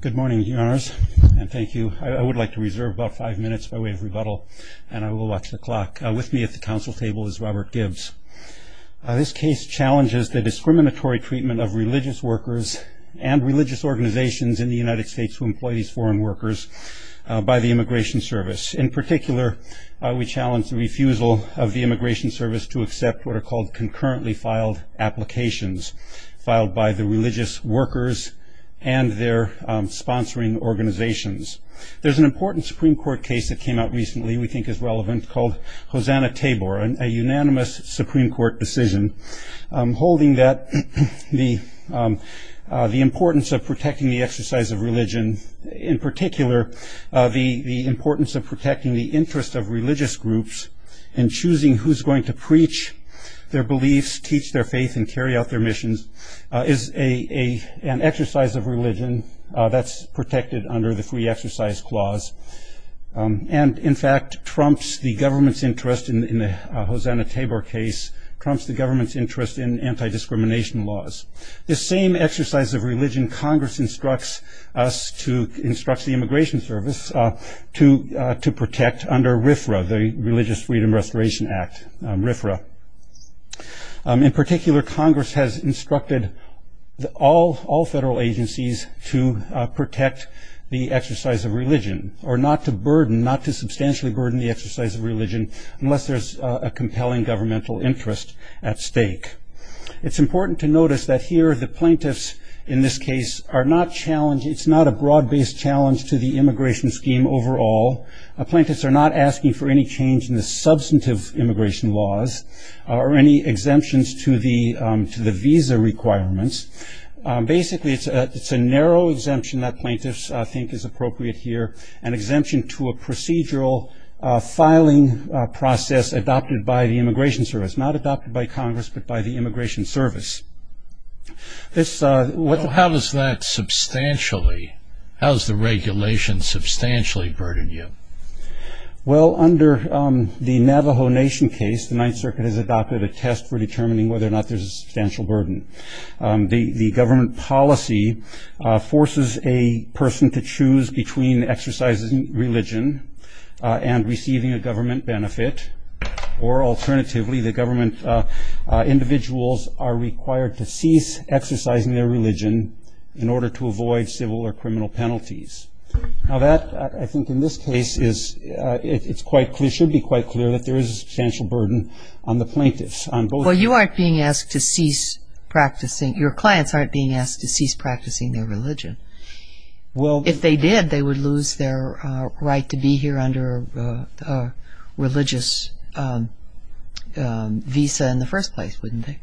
Good morning your honors and thank you I would like to reserve about five minutes by way of rebuttal and I will watch the clock with me at the council table is Robert Gibbs This case challenges the discriminatory treatment of religious workers and religious organizations in the United States who employ these foreign workers By the Immigration Service in particular we challenge the refusal of the Immigration Service to accept what are called concurrently filed Applications filed by the religious workers and their sponsoring organizations There's an important Supreme Court case that came out recently. We think is relevant called Hosanna Tabor and a unanimous Supreme Court decision holding that the the importance of protecting the exercise of religion in particular the the importance of protecting the interest of religious groups and Carry out their missions is a an exercise of religion. That's protected under the free exercise clause And in fact trumps the government's interest in the Hosanna Tabor case trumps the government's interest in Anti-discrimination laws the same exercise of religion Congress instructs us to instruct the Immigration Service To to protect under RFRA the Religious Freedom Restoration Act RFRA In particular Congress has instructed the all all federal agencies to Protect the exercise of religion or not to burden not to substantially burden the exercise of religion unless there's a compelling governmental interest at stake It's important to notice that here the plaintiffs in this case are not challenging It's not a broad-based challenge to the immigration scheme overall Appointments are not asking for any change in the substantive immigration laws or any exemptions to the to the visa requirements Basically, it's a it's a narrow exemption that plaintiffs. I think is appropriate here an exemption to a procedural Filing process adopted by the Immigration Service not adopted by Congress, but by the Immigration Service This what how does that? Substantially, how's the regulation substantially burden you? Well under the Navajo Nation case, the Ninth Circuit has adopted a test for determining whether or not there's a substantial burden the the government policy forces a person to choose between exercising religion and receiving a government benefit or alternatively the government Individuals are required to cease exercising their religion in order to avoid civil or criminal penalties Now that I think in this case is it's quite clear should be quite clear that there is a substantial burden on the plaintiffs I'm going you aren't being asked to cease Practicing your clients aren't being asked to cease practicing their religion Well, if they did they would lose their right to be here under religious Visa in the first place wouldn't they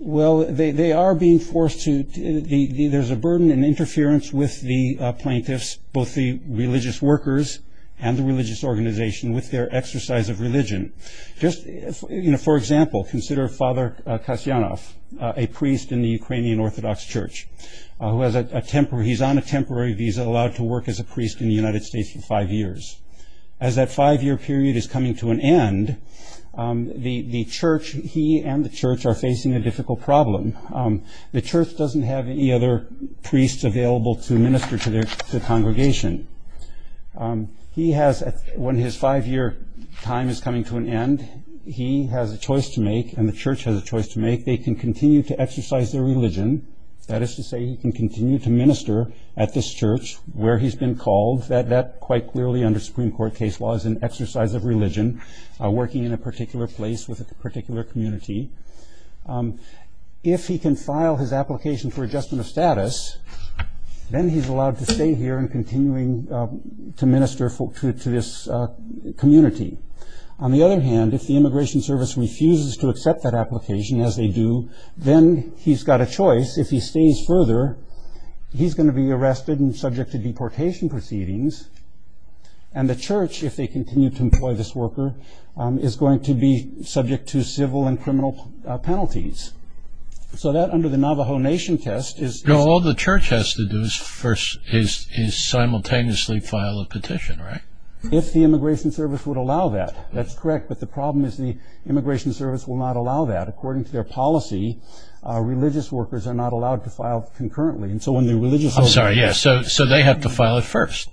well they are being forced to there's a burden and interference with the plaintiffs both the religious workers and the religious organization with their exercise of religion just You know, for example consider father Kasyanov a priest in the Ukrainian Orthodox Church Who has a temporary he's on a temporary visa allowed to work as a priest in the United States for five years as? That five-year period is coming to an end The the church he and the church are facing a difficult problem The church doesn't have any other priests available to minister to their congregation He has when his five-year time is coming to an end He has a choice to make and the church has a choice to make they can continue to exercise their religion That is to say he can continue to minister at this church where he's been called that that quite clearly under Supreme Court case law As an exercise of religion are working in a particular place with a particular community If he can file his application for adjustment of status Then he's allowed to stay here and continuing to minister for to this Community on the other hand if the Immigration Service refuses to accept that application as they do Then he's got a choice if he stays further he's going to be arrested and subject to deportation proceedings and The church if they continue to employ this worker is going to be subject to civil and criminal penalties So that under the Navajo Nation test is all the church has to do is first is Simultaneously file a petition right if the Immigration Service would allow that that's correct But the problem is the Immigration Service will not allow that according to their policy Religious workers are not allowed to file concurrently and so when the religious. I'm sorry yes, so so they have to file it first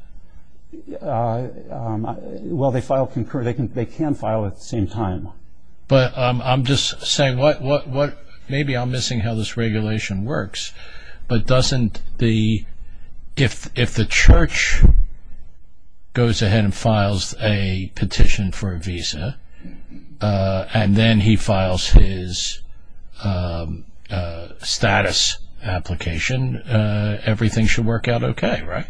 Well they file concurrently can they can file at the same time, but I'm just saying what what what maybe I'm missing How this regulation works, but doesn't the if if the church? Goes ahead and files a petition for a visa and then he files his Status application Everything should work out okay, right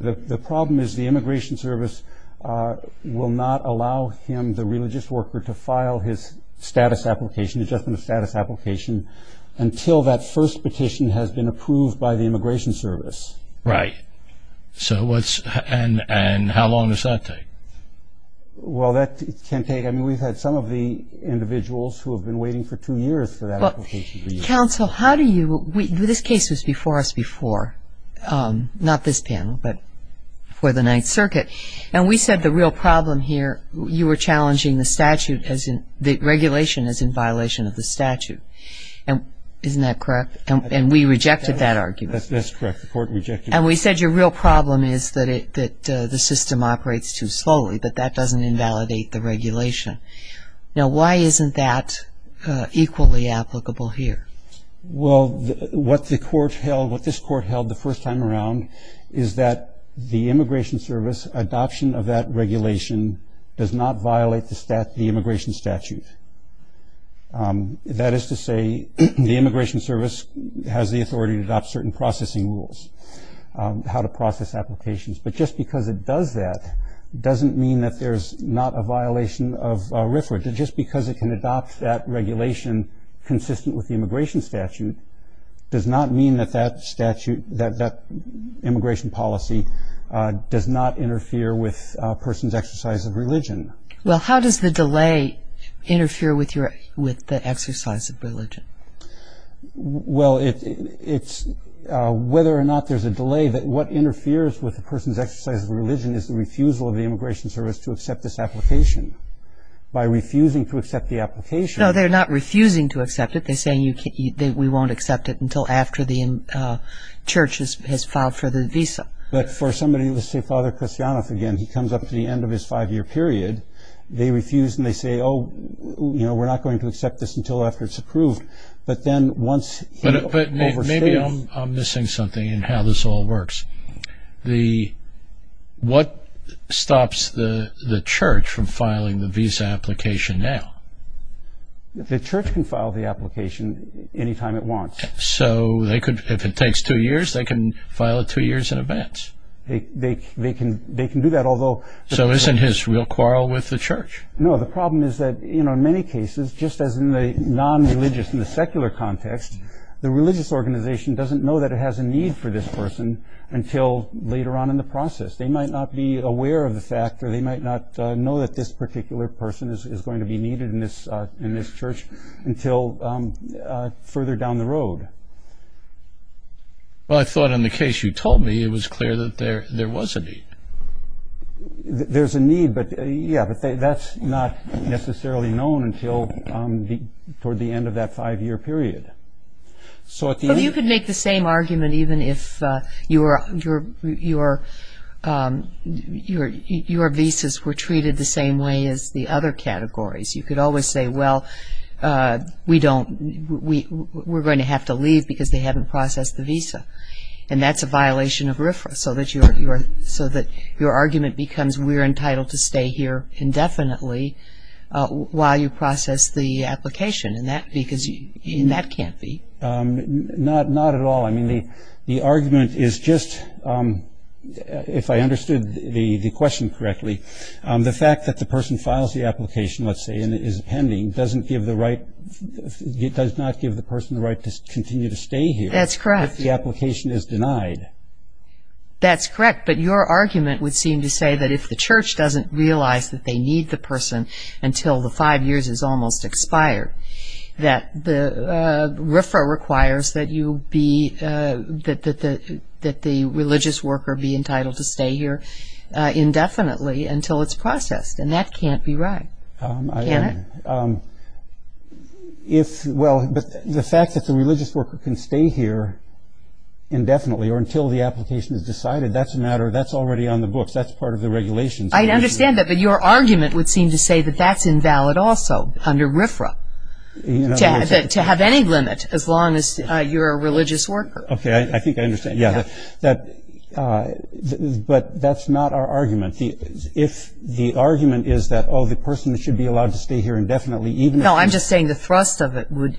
the problem is the Immigration Service Will not allow him the religious worker to file his status application adjustment of status application Until that first petition has been approved by the Immigration Service, right? So what's and and how long does that take? Well that can take I mean we've had some of the individuals who have been waiting for two years for that And we had a panel before Not this panel, but for the Ninth Circuit, and we said the real problem here you were challenging the statute as in the regulation is in violation of the statute and Isn't that correct and we rejected that argument? That's correct the court rejected and we said your real problem is that it that the system operates too slowly But that doesn't invalidate the regulation now. Why isn't that? Equally applicable here Well what the court held what this court held the first time around is that the Immigration Service? Adoption of that regulation does not violate the stat the immigration statute That is to say the Immigration Service has the authority to adopt certain processing rules How to process applications, but just because it does that Doesn't mean that there's not a violation of reference just because it can adopt that regulation consistent with the immigration statute Does not mean that that statute that that immigration policy Does not interfere with persons exercise of religion well, how does the delay? Interfere with your with the exercise of religion well, it's Whether or not there's a delay that what interferes with the person's exercise of religion is the refusal of the Immigration Service to accept this application By refusing to accept the application. Oh, they're not refusing to accept it. They're saying you can't eat that We won't accept it until after the in Churches has filed for the visa, but for somebody to say father christianos again He comes up to the end of his five-year period They refuse and they say oh, you know we're not going to accept this until after it's approved, but then once Maybe I'm missing something and how this all works the What stops the the church from filing the visa application now? The church can file the application Anytime it wants so they could if it takes two years they can file it two years in advance They they can they can do that although so isn't his real quarrel with the church No, the problem is that you know in many cases just as in the non religious in the secular context The religious organization doesn't know that it has a need for this person until later on in the process They might not be aware of the fact or they might not know that this particular Person is going to be needed in this in this church until further down the road Well, I thought in the case you told me it was clear that there there was a need There's a need but yeah, but that's not necessarily known until the toward the end of that five-year period so if you could make the same argument even if you were your your Your your visas were treated the same way as the other categories you could always say well We don't we we're going to have to leave because they haven't processed the visa And that's a violation of RFRA so that you're you're so that your argument becomes we're entitled to stay here indefinitely While you process the application and that because you that can't be Not not at all. I mean the the argument is just If I understood the the question correctly the fact that the person files the application Let's say and it is pending doesn't give the right It does not give the person the right to continue to stay here. That's correct. The application is denied That's correct But your argument would seem to say that if the church doesn't realize that they need the person until the five years is almost expired that the RFRA requires that you be That that the that the religious worker be entitled to stay here Indefinitely until it's processed and that can't be right If well, but the fact that the religious worker can stay here Indefinitely or until the application is decided that's a matter that's already on the books. That's part of the regulations I understand that but your argument would seem to say that that's invalid also under RFRA To have any limit as long as you're a religious worker, okay, I think I understand. Yeah that But that's not our argument If the argument is that all the person should be allowed to stay here indefinitely even though I'm just saying the thrust of it would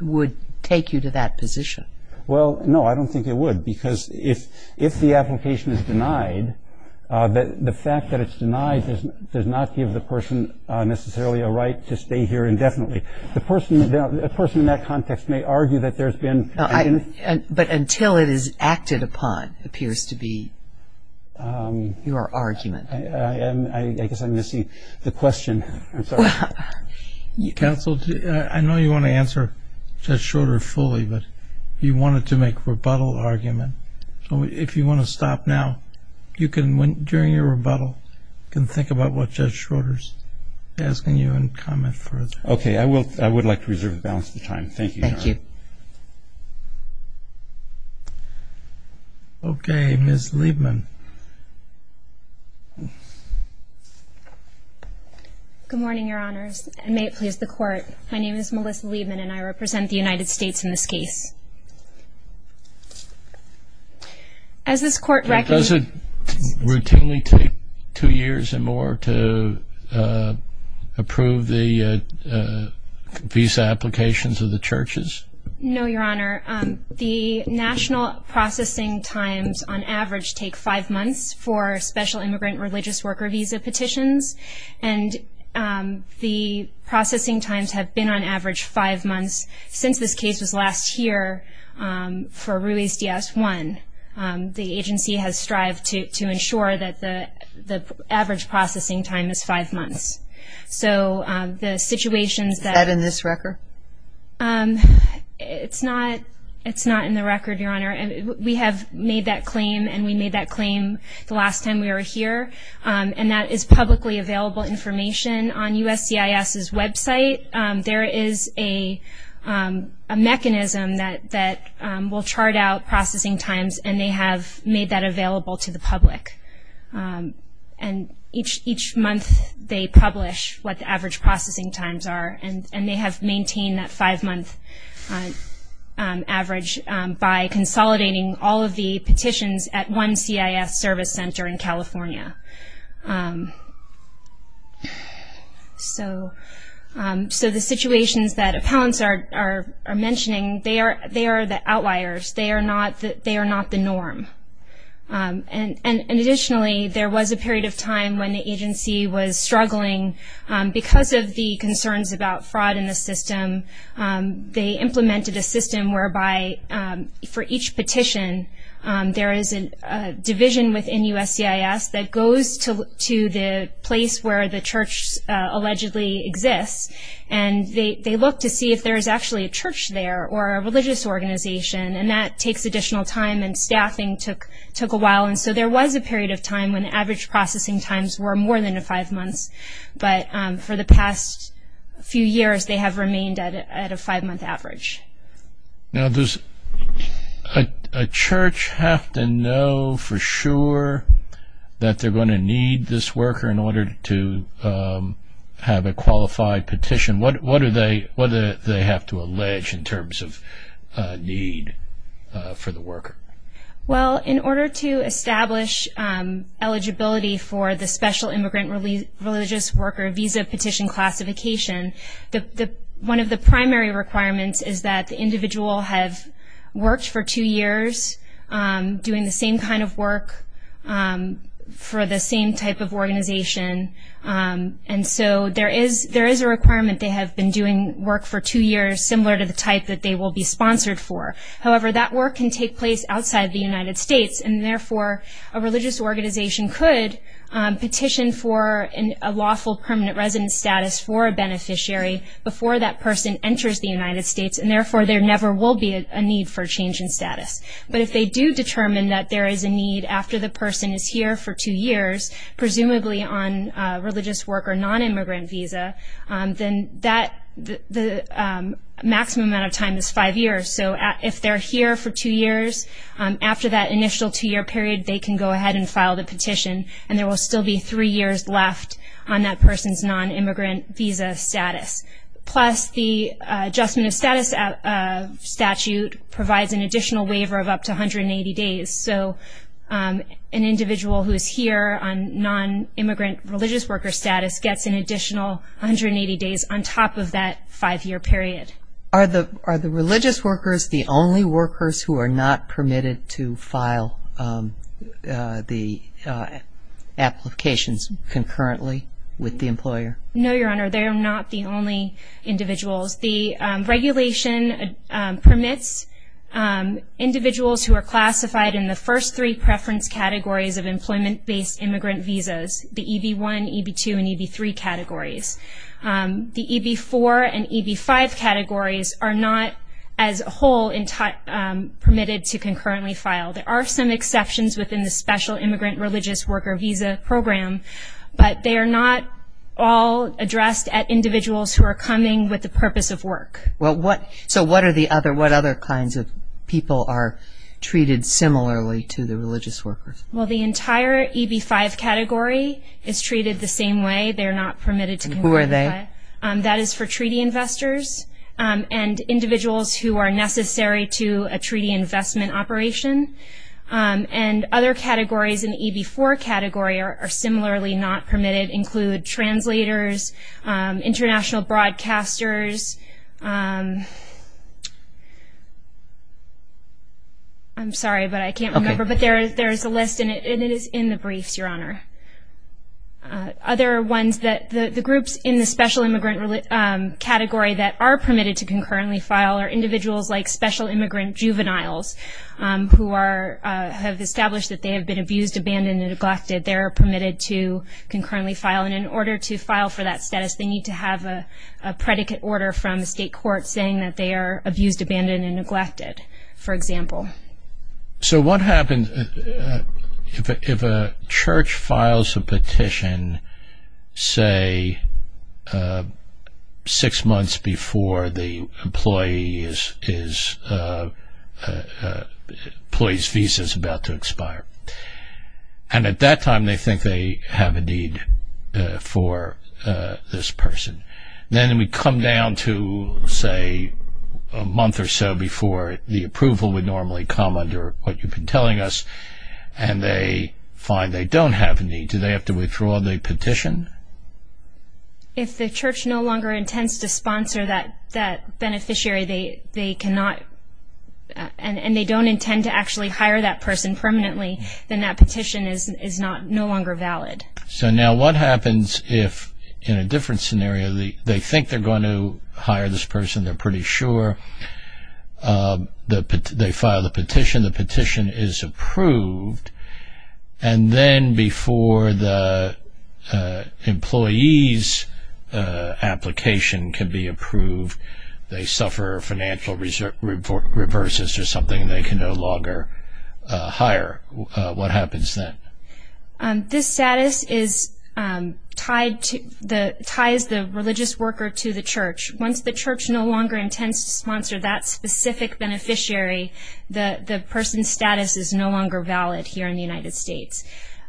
Would take you to that position. Well, no, I don't think it would because if if the application is denied That the fact that it's denied doesn't does not give the person Necessarily a right to stay here. Indefinitely. The person is a person in that context may argue that there's been I but until it is acted upon appears to be Your argument. I guess I'm missing the question Counseled I know you want to answer just short or fully but you wanted to make rebuttal argument So if you want to stop now You can went during your rebuttal can think about what judge Schroeder's Asking you and comment for it. Okay, I will I would like to reserve the balance of time. Thank you Okay, miss Liebman Good morning, your honors and may it please the court. My name is Melissa Liebman and I represent the United States in this case As This court doesn't routinely take two years and more to Approve the Visa applications of the churches. No, your honor the national processing times on average take five months for special immigrant religious worker visa petitions and The processing times have been on average five months since this case was last year for Ruiz DS1 the agency has strived to ensure that the Average processing time is five months. So the situations that in this record It's not it's not in the record your honor And we have made that claim and we made that claim the last time we were here And that is publicly available information on USC is his website. There is a Mechanism that that will chart out processing times and they have made that available to the public And each each month they publish what the average processing times are and and they have maintained that five month Average by consolidating all of the petitions at one CIS service center in California So So the situations that appellants are are mentioning they are they are the outliers they are not that they are not the norm And and additionally there was a period of time when the agency was struggling Because of the concerns about fraud in the system They implemented a system whereby for each petition There is a division within USC is that goes to to the place where the church? allegedly exists and They look to see if there is actually a church there or a religious Organization and that takes additional time and staffing took took a while And so there was a period of time when the average processing times were more than a five months But for the past a few years they have remained at a five month average now there's a church have to know for sure that they're going to need this worker in order to Have a qualified petition. What what are they whether they have to allege in terms of need? for the worker well in order to establish eligibility for the special immigrant relief religious worker visa petition classification The one of the primary requirements is that the individual have worked for two years Doing the same kind of work for the same type of organization And so there is there is a requirement They have been doing work for two years similar to the type that they will be sponsored for however, that work can take place outside the United States and therefore a religious organization could petition for in a lawful permanent resident status for a Beneficiary before that person enters the United States and therefore there never will be a need for change in status But if they do determine that there is a need after the person is here for two years Presumably on religious worker non-immigrant visa, then that the Maximum amount of time is five years. So if they're here for two years After that initial two-year period they can go ahead and file the petition and there will still be three years left on that person's non-immigrant visa status plus the adjustment of status at statute provides an additional waiver of up to 180 days, so An individual who is here on non-immigrant religious worker status gets an additional 180 days on top of that five-year period. Are the are the religious workers the only workers who are not permitted to file the Applications concurrently with the employer. No, your honor. They are not the only individuals the regulation permits Individuals who are classified in the first three preference categories of employment-based immigrant visas the EB1, EB2, and EB3 categories The EB4 and EB5 categories are not as a whole Permitted to concurrently file. There are some exceptions within the special immigrant religious worker visa program But they are not all Addressed at individuals who are coming with the purpose of work. Well what so what are the other what other kinds? of people are Treated similarly to the religious workers. Well the entire EB5 category is treated the same way They're not permitted to. Who are they? That is for treaty investors And individuals who are necessary to a treaty investment operation And other categories in EB4 category are similarly not permitted include translators international broadcasters I'm sorry, but I can't remember, but there's there's a list in it, and it is in the briefs your honor Other ones that the the groups in the special immigrant Category that are permitted to concurrently file are individuals like special immigrant juveniles Who are have established that they have been abused abandoned and neglected they are permitted to concurrently file and in order to file for that status they need to have a Abused abandoned and neglected for example So what happens? if a church files a petition say Six months before the employee is Employees visa is about to expire and at that time they think they have a need for this person then we come down to say a month or so before the approval would normally come under what you've been telling us and They find they don't have a need do they have to withdraw the petition? If the church no longer intends to sponsor that that beneficiary they they cannot And and they don't intend to actually hire that person permanently then that petition is is not no longer valid So now what happens if in a different scenario the they think they're going to hire this person. They're pretty sure The they file the petition the petition is approved and then before the Employees Application can be approved they suffer financial research report reverses or something. They can no longer Hire, what happens then? this status is Tied to the ties the religious worker to the church once the church no longer intends to sponsor that specific Beneficiary the the person's status is no longer valid here in the United States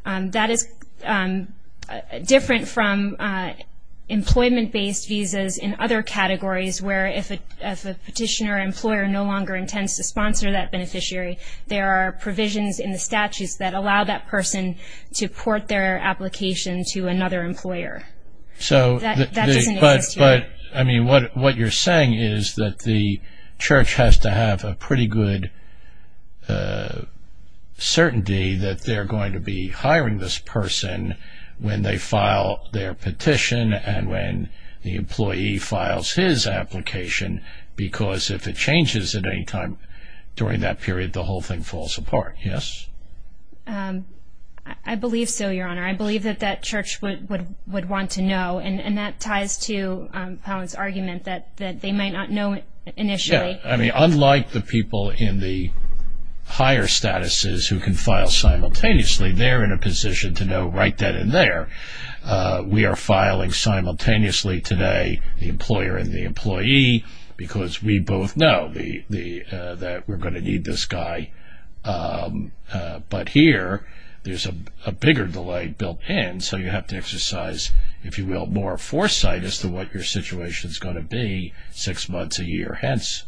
that is different from Employment based visas in other categories where if a petitioner employer no longer intends to sponsor that beneficiary There are provisions in the statutes that allow that person to port their application to another employer So but but I mean what what you're saying is that the church has to have a pretty good Certainty that they're going to be hiring this person When they file their petition and when the employee files his application Because if it changes at any time during that period the whole thing falls apart, yes, I Believe so your honor I believe that that church would would would want to know and and that ties to Pounds argument that that they might not know initially. I mean unlike the people in the Higher statuses who can file simultaneously. They're in a position to know right then and there We are filing Simultaneously today the employer and the employee because we both know the the that we're going to need this guy But here there's a bigger delay built in so you have to exercise If you will more foresight as to what your situation is going to be six months a year hence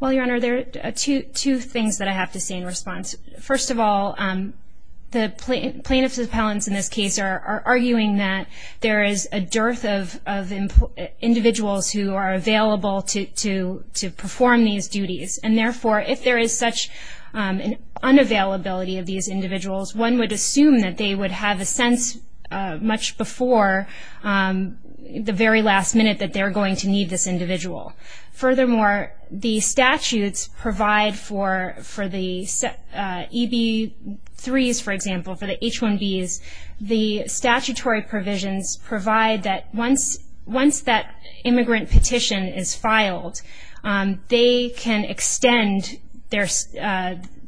Well, your honor there are two two things that I have to say in response. First of all The plaintiff's appellants in this case are arguing that there is a dearth of Individuals who are available to to to perform these duties and therefore if there is such An unavailability of these individuals one would assume that they would have a sense much before The very last minute that they're going to need this individual furthermore the statutes provide for for the EB threes for example for the h1b is the Statutory provisions provide that once once that immigrant petition is filed they can extend their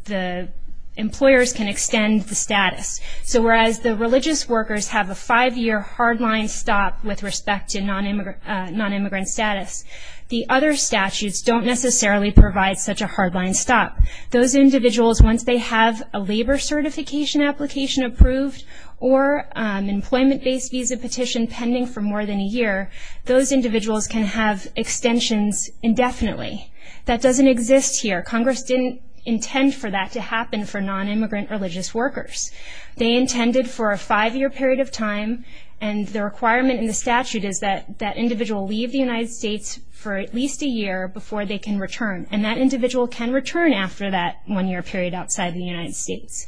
the Employers can extend the status. So whereas the religious workers have a five-year hard-line stop with respect to non-immigrant Non-immigrant status the other statutes don't necessarily provide such a hard-line stop those individuals once they have a labor certification application approved or Employment-based visa petition pending for more than a year those individuals can have extensions Indefinitely that doesn't exist here Congress didn't intend for that to happen for non-immigrant religious workers They intended for a five-year period of time and the requirement in the statute is that that individual leave the United States? For at least a year before they can return and that individual can return after that one-year period outside the United States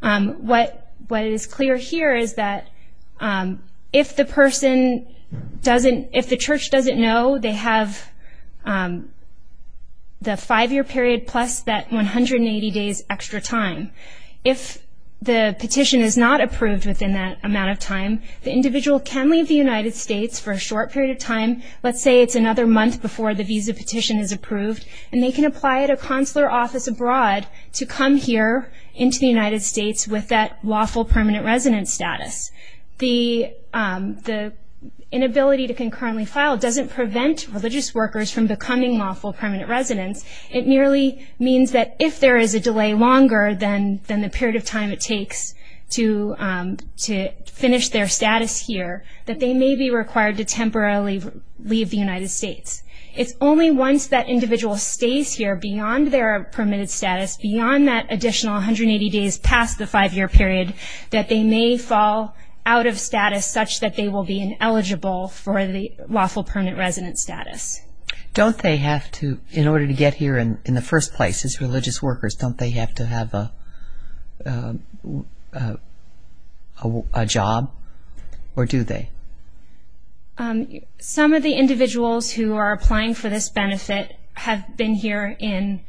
What what is clear here? Is that? if the person Doesn't if the church doesn't know they have The five-year period plus that 180 days extra time if The petition is not approved within that amount of time the individual can leave the United States for a short period of time Let's say it's another month before the visa petition is approved and they can apply at a consular office abroad to come here into the United States with that lawful permanent residence status the the Inability to concurrently file doesn't prevent religious workers from becoming lawful permanent residents It nearly means that if there is a delay longer than than the period of time it takes to To finish their status here that they may be required to temporarily leave the United States It's only once that individual stays here beyond their permitted status beyond that additional 180 days past the five-year period That they may fall out of status such that they will be ineligible for the lawful permanent residence status don't they have to in order to get here and in the first place is religious workers don't they have to have a Job or do they Some of the individuals who are applying for this benefit have been here in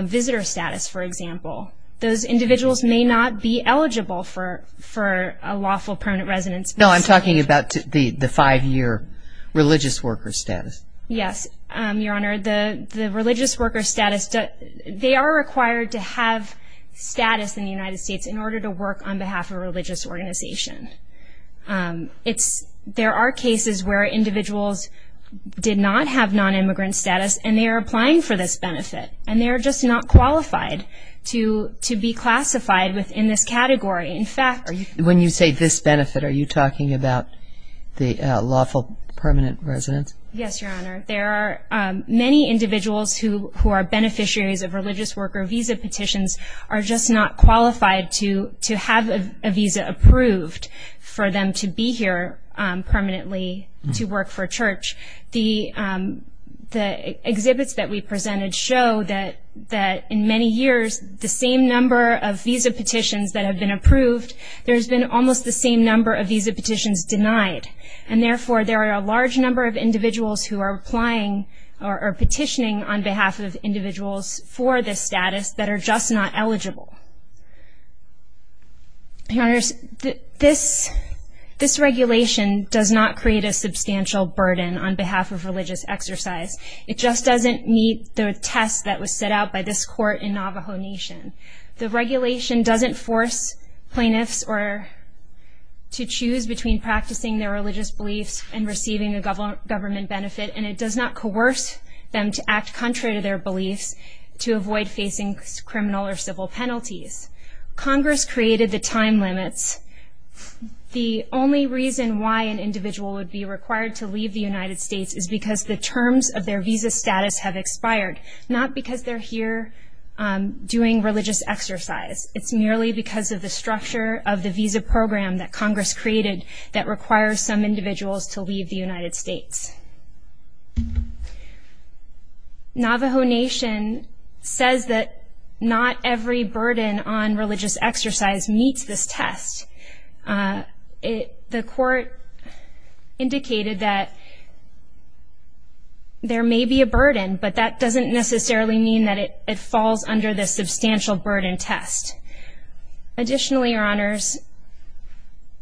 Visitor status, for example, those individuals may not be eligible for for a lawful permanent residence No, I'm talking about the the five-year religious worker status Yes, your honor the the religious worker status that they are required to have Status in the United States in order to work on behalf of religious organization It's there are cases where individuals Did not have non-immigrant status and they are applying for this benefit and they're just not qualified To to be classified within this category. In fact, when you say this benefit, are you talking about? Just not qualified to to have a visa approved for them to be here permanently to work for church the The exhibits that we presented show that that in many years the same number of visa petitions that have been approved There's been almost the same number of visa petitions denied and therefore there are a large number of individuals who are applying or Petitioning on behalf of individuals for this status that are just not eligible The honors this This regulation does not create a substantial burden on behalf of religious exercise It just doesn't meet the test that was set out by this court in Navajo Nation. The regulation doesn't force plaintiffs or To choose between practicing their religious beliefs and receiving the government government benefit and it does not coerce Them to act contrary to their beliefs to avoid facing criminal or civil penalties Congress created the time limits The only reason why an individual would be required to leave the United States is because the terms of their visa status have expired Not because they're here Doing religious exercise. It's merely because of the structure of the visa program that Congress created that requires some individuals to leave the United States Navajo Nation says that not every burden on religious exercise meets this test it the court indicated that There may be a burden but that doesn't necessarily mean that it falls under the substantial burden test Additionally your honors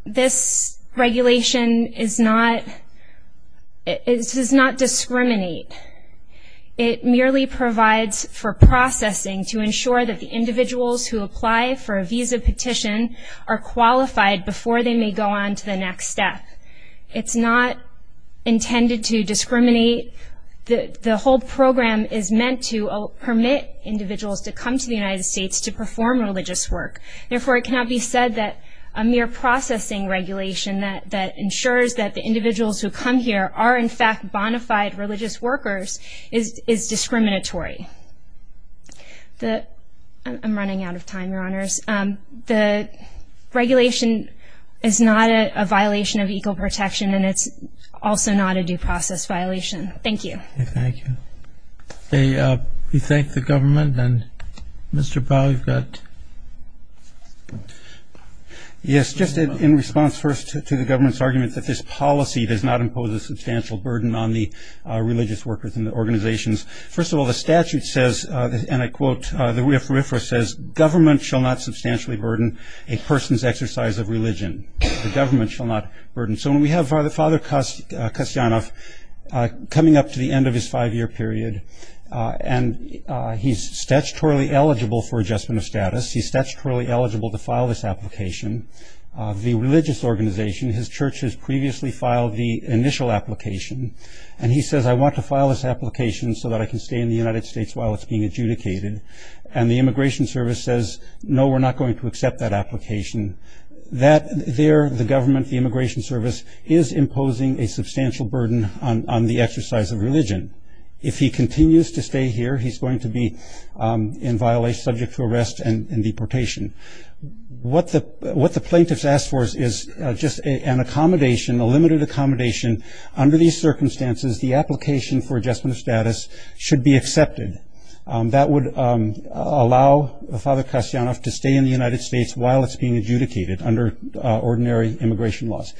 This regulation is not It does not discriminate It merely provides for processing to ensure that the individuals who apply for a visa petition are Qualified before they may go on to the next step. It's not Intended to discriminate The the whole program is meant to permit individuals to come to the United States to perform religious work Therefore it cannot be said that a mere processing Regulation that that ensures that the individuals who come here are in fact bonafide religious workers is is discriminatory the I'm running out of time your honors the Regulation is not a violation of equal protection and it's also not a due process violation. Thank you Hey, you think the government and mr. Powell got Yes Just in response first to the government's argument that this policy does not impose a substantial burden on the religious workers in the organizations first of all The statute says and I quote that we have for ifra says government shall not substantially burden a person's exercise of religion The government shall not burden. So when we have father father cost cost enough coming up to the end of his five-year period and He's statutorily eligible for adjustment of status. He's statutorily eligible to file this application The religious organization his church has previously filed the initial application and he says I want to file this application So that I can stay in the United States while it's being adjudicated and the Immigration Service says no We're not going to accept that application That there the government the Immigration Service is imposing a substantial burden on the exercise of religion If he continues to stay here, he's going to be in violation subject to arrest and deportation What the what the plaintiffs asked for is is just an accommodation a limited accommodation under these circumstances The application for adjustment of status should be accepted that would Allow the father cost enough to stay in the United States while it's being adjudicated under ordinary immigration laws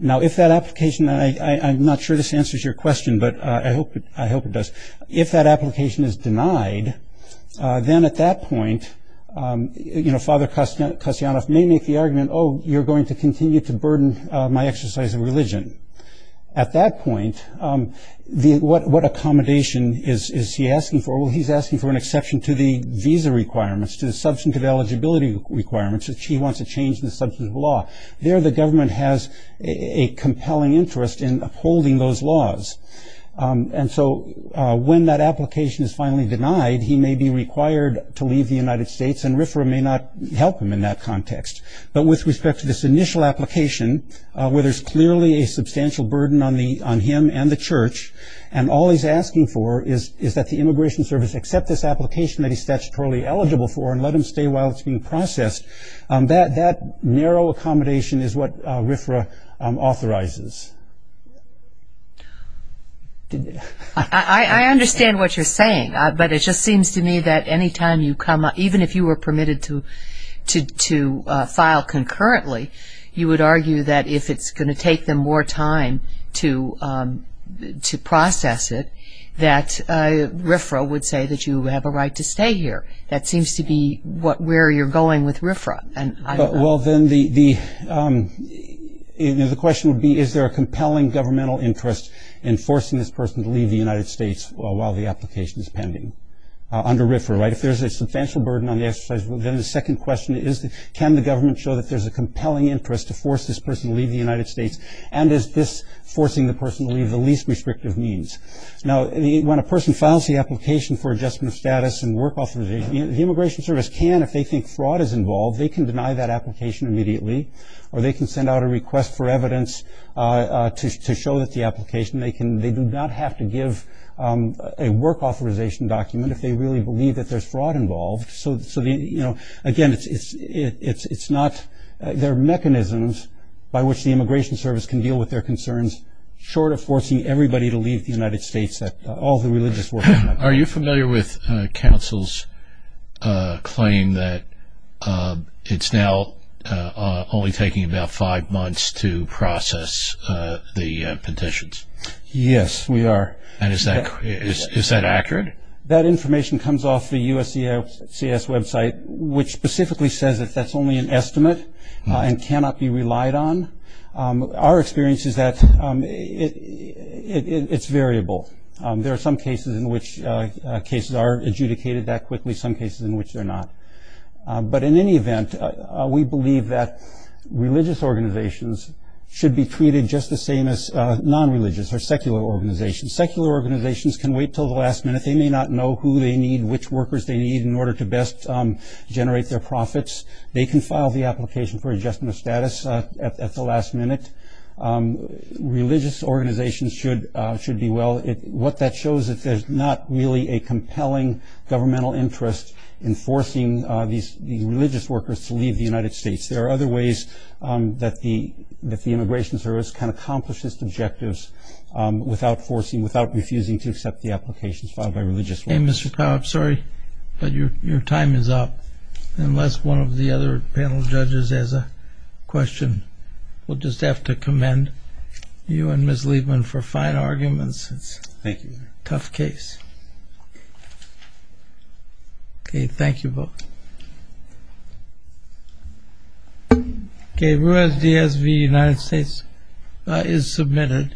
Now if that application and I I'm not sure this answers your question, but I hope I hope it does if that application is denied then at that point You know father Kostya Kostyanov may make the argument. Oh, you're going to continue to burden my exercise of religion at that point The what what accommodation is is he asking for? Well, he's asking for an exception to the visa requirements to the substantive eligibility requirements He wants to change the substance of law there. The government has a compelling interest in upholding those laws and so When that application is finally denied he may be required to leave the United States and RFRA may not help him in that context but with respect to this initial application where there's clearly a substantial burden on the on him and the church and All he's asking for is is that the Immigration Service accept this application that he's statutorily eligible for and let him stay while it's being Processed that that narrow accommodation is what RFRA authorizes Did I Understand what you're saying, but it just seems to me that anytime you come even if you were permitted to to to file Concurrently you would argue that if it's going to take them more time to to process it that RFRA would say that you have a right to stay here. That seems to be what where you're going with RFRA and well, then the The question would be is there a compelling governmental interest in forcing this person to leave the United States while the application is pending Under RFRA right if there's a substantial burden on the exercise well then the second question is that can the government show that there's a compelling interest to force this person to leave the United States and Is this forcing the person to leave the least restrictive means? Now when a person files the application for adjustment of status and work authorization The Immigration Service can if they think fraud is involved they can deny that application immediately or they can send out a request for evidence To show that the application they can they do not have to give a work authorization Document if they really believe that there's fraud involved. So so the you know again, it's it's it's it's not There are mechanisms by which the Immigration Service can deal with their concerns Short of forcing everybody to leave the United States that all the religious world. Are you familiar with? councils Claim that It's now Only taking about five months to process the petitions Yes, we are and is that is that accurate that information comes off the USC CS website, which specifically says that that's only an estimate and cannot be relied on our experience is that It's variable. There are some cases in which Cases are adjudicated that quickly some cases in which they're not but in any event we believe that Religious organizations should be treated just the same as non-religious or secular organizations secular organizations can wait till the last minute They may not know who they need which workers they need in order to best Generate their profits. They can file the application for adjustment of status at the last minute Religious organizations should should be well it what that shows that there's not really a compelling governmental interest in forcing these religious workers to leave the United States there are other ways That the that the Immigration Service can accomplish its objectives Without forcing without refusing to accept the applications filed by religious name, mr. Cobb, sorry, but your your time is up unless one of the other panel judges as a Question we'll just have to commend You and miss Liebman for fine arguments. It's thank you tough case Okay, thank you both Okay, whereas DSV United States is submitted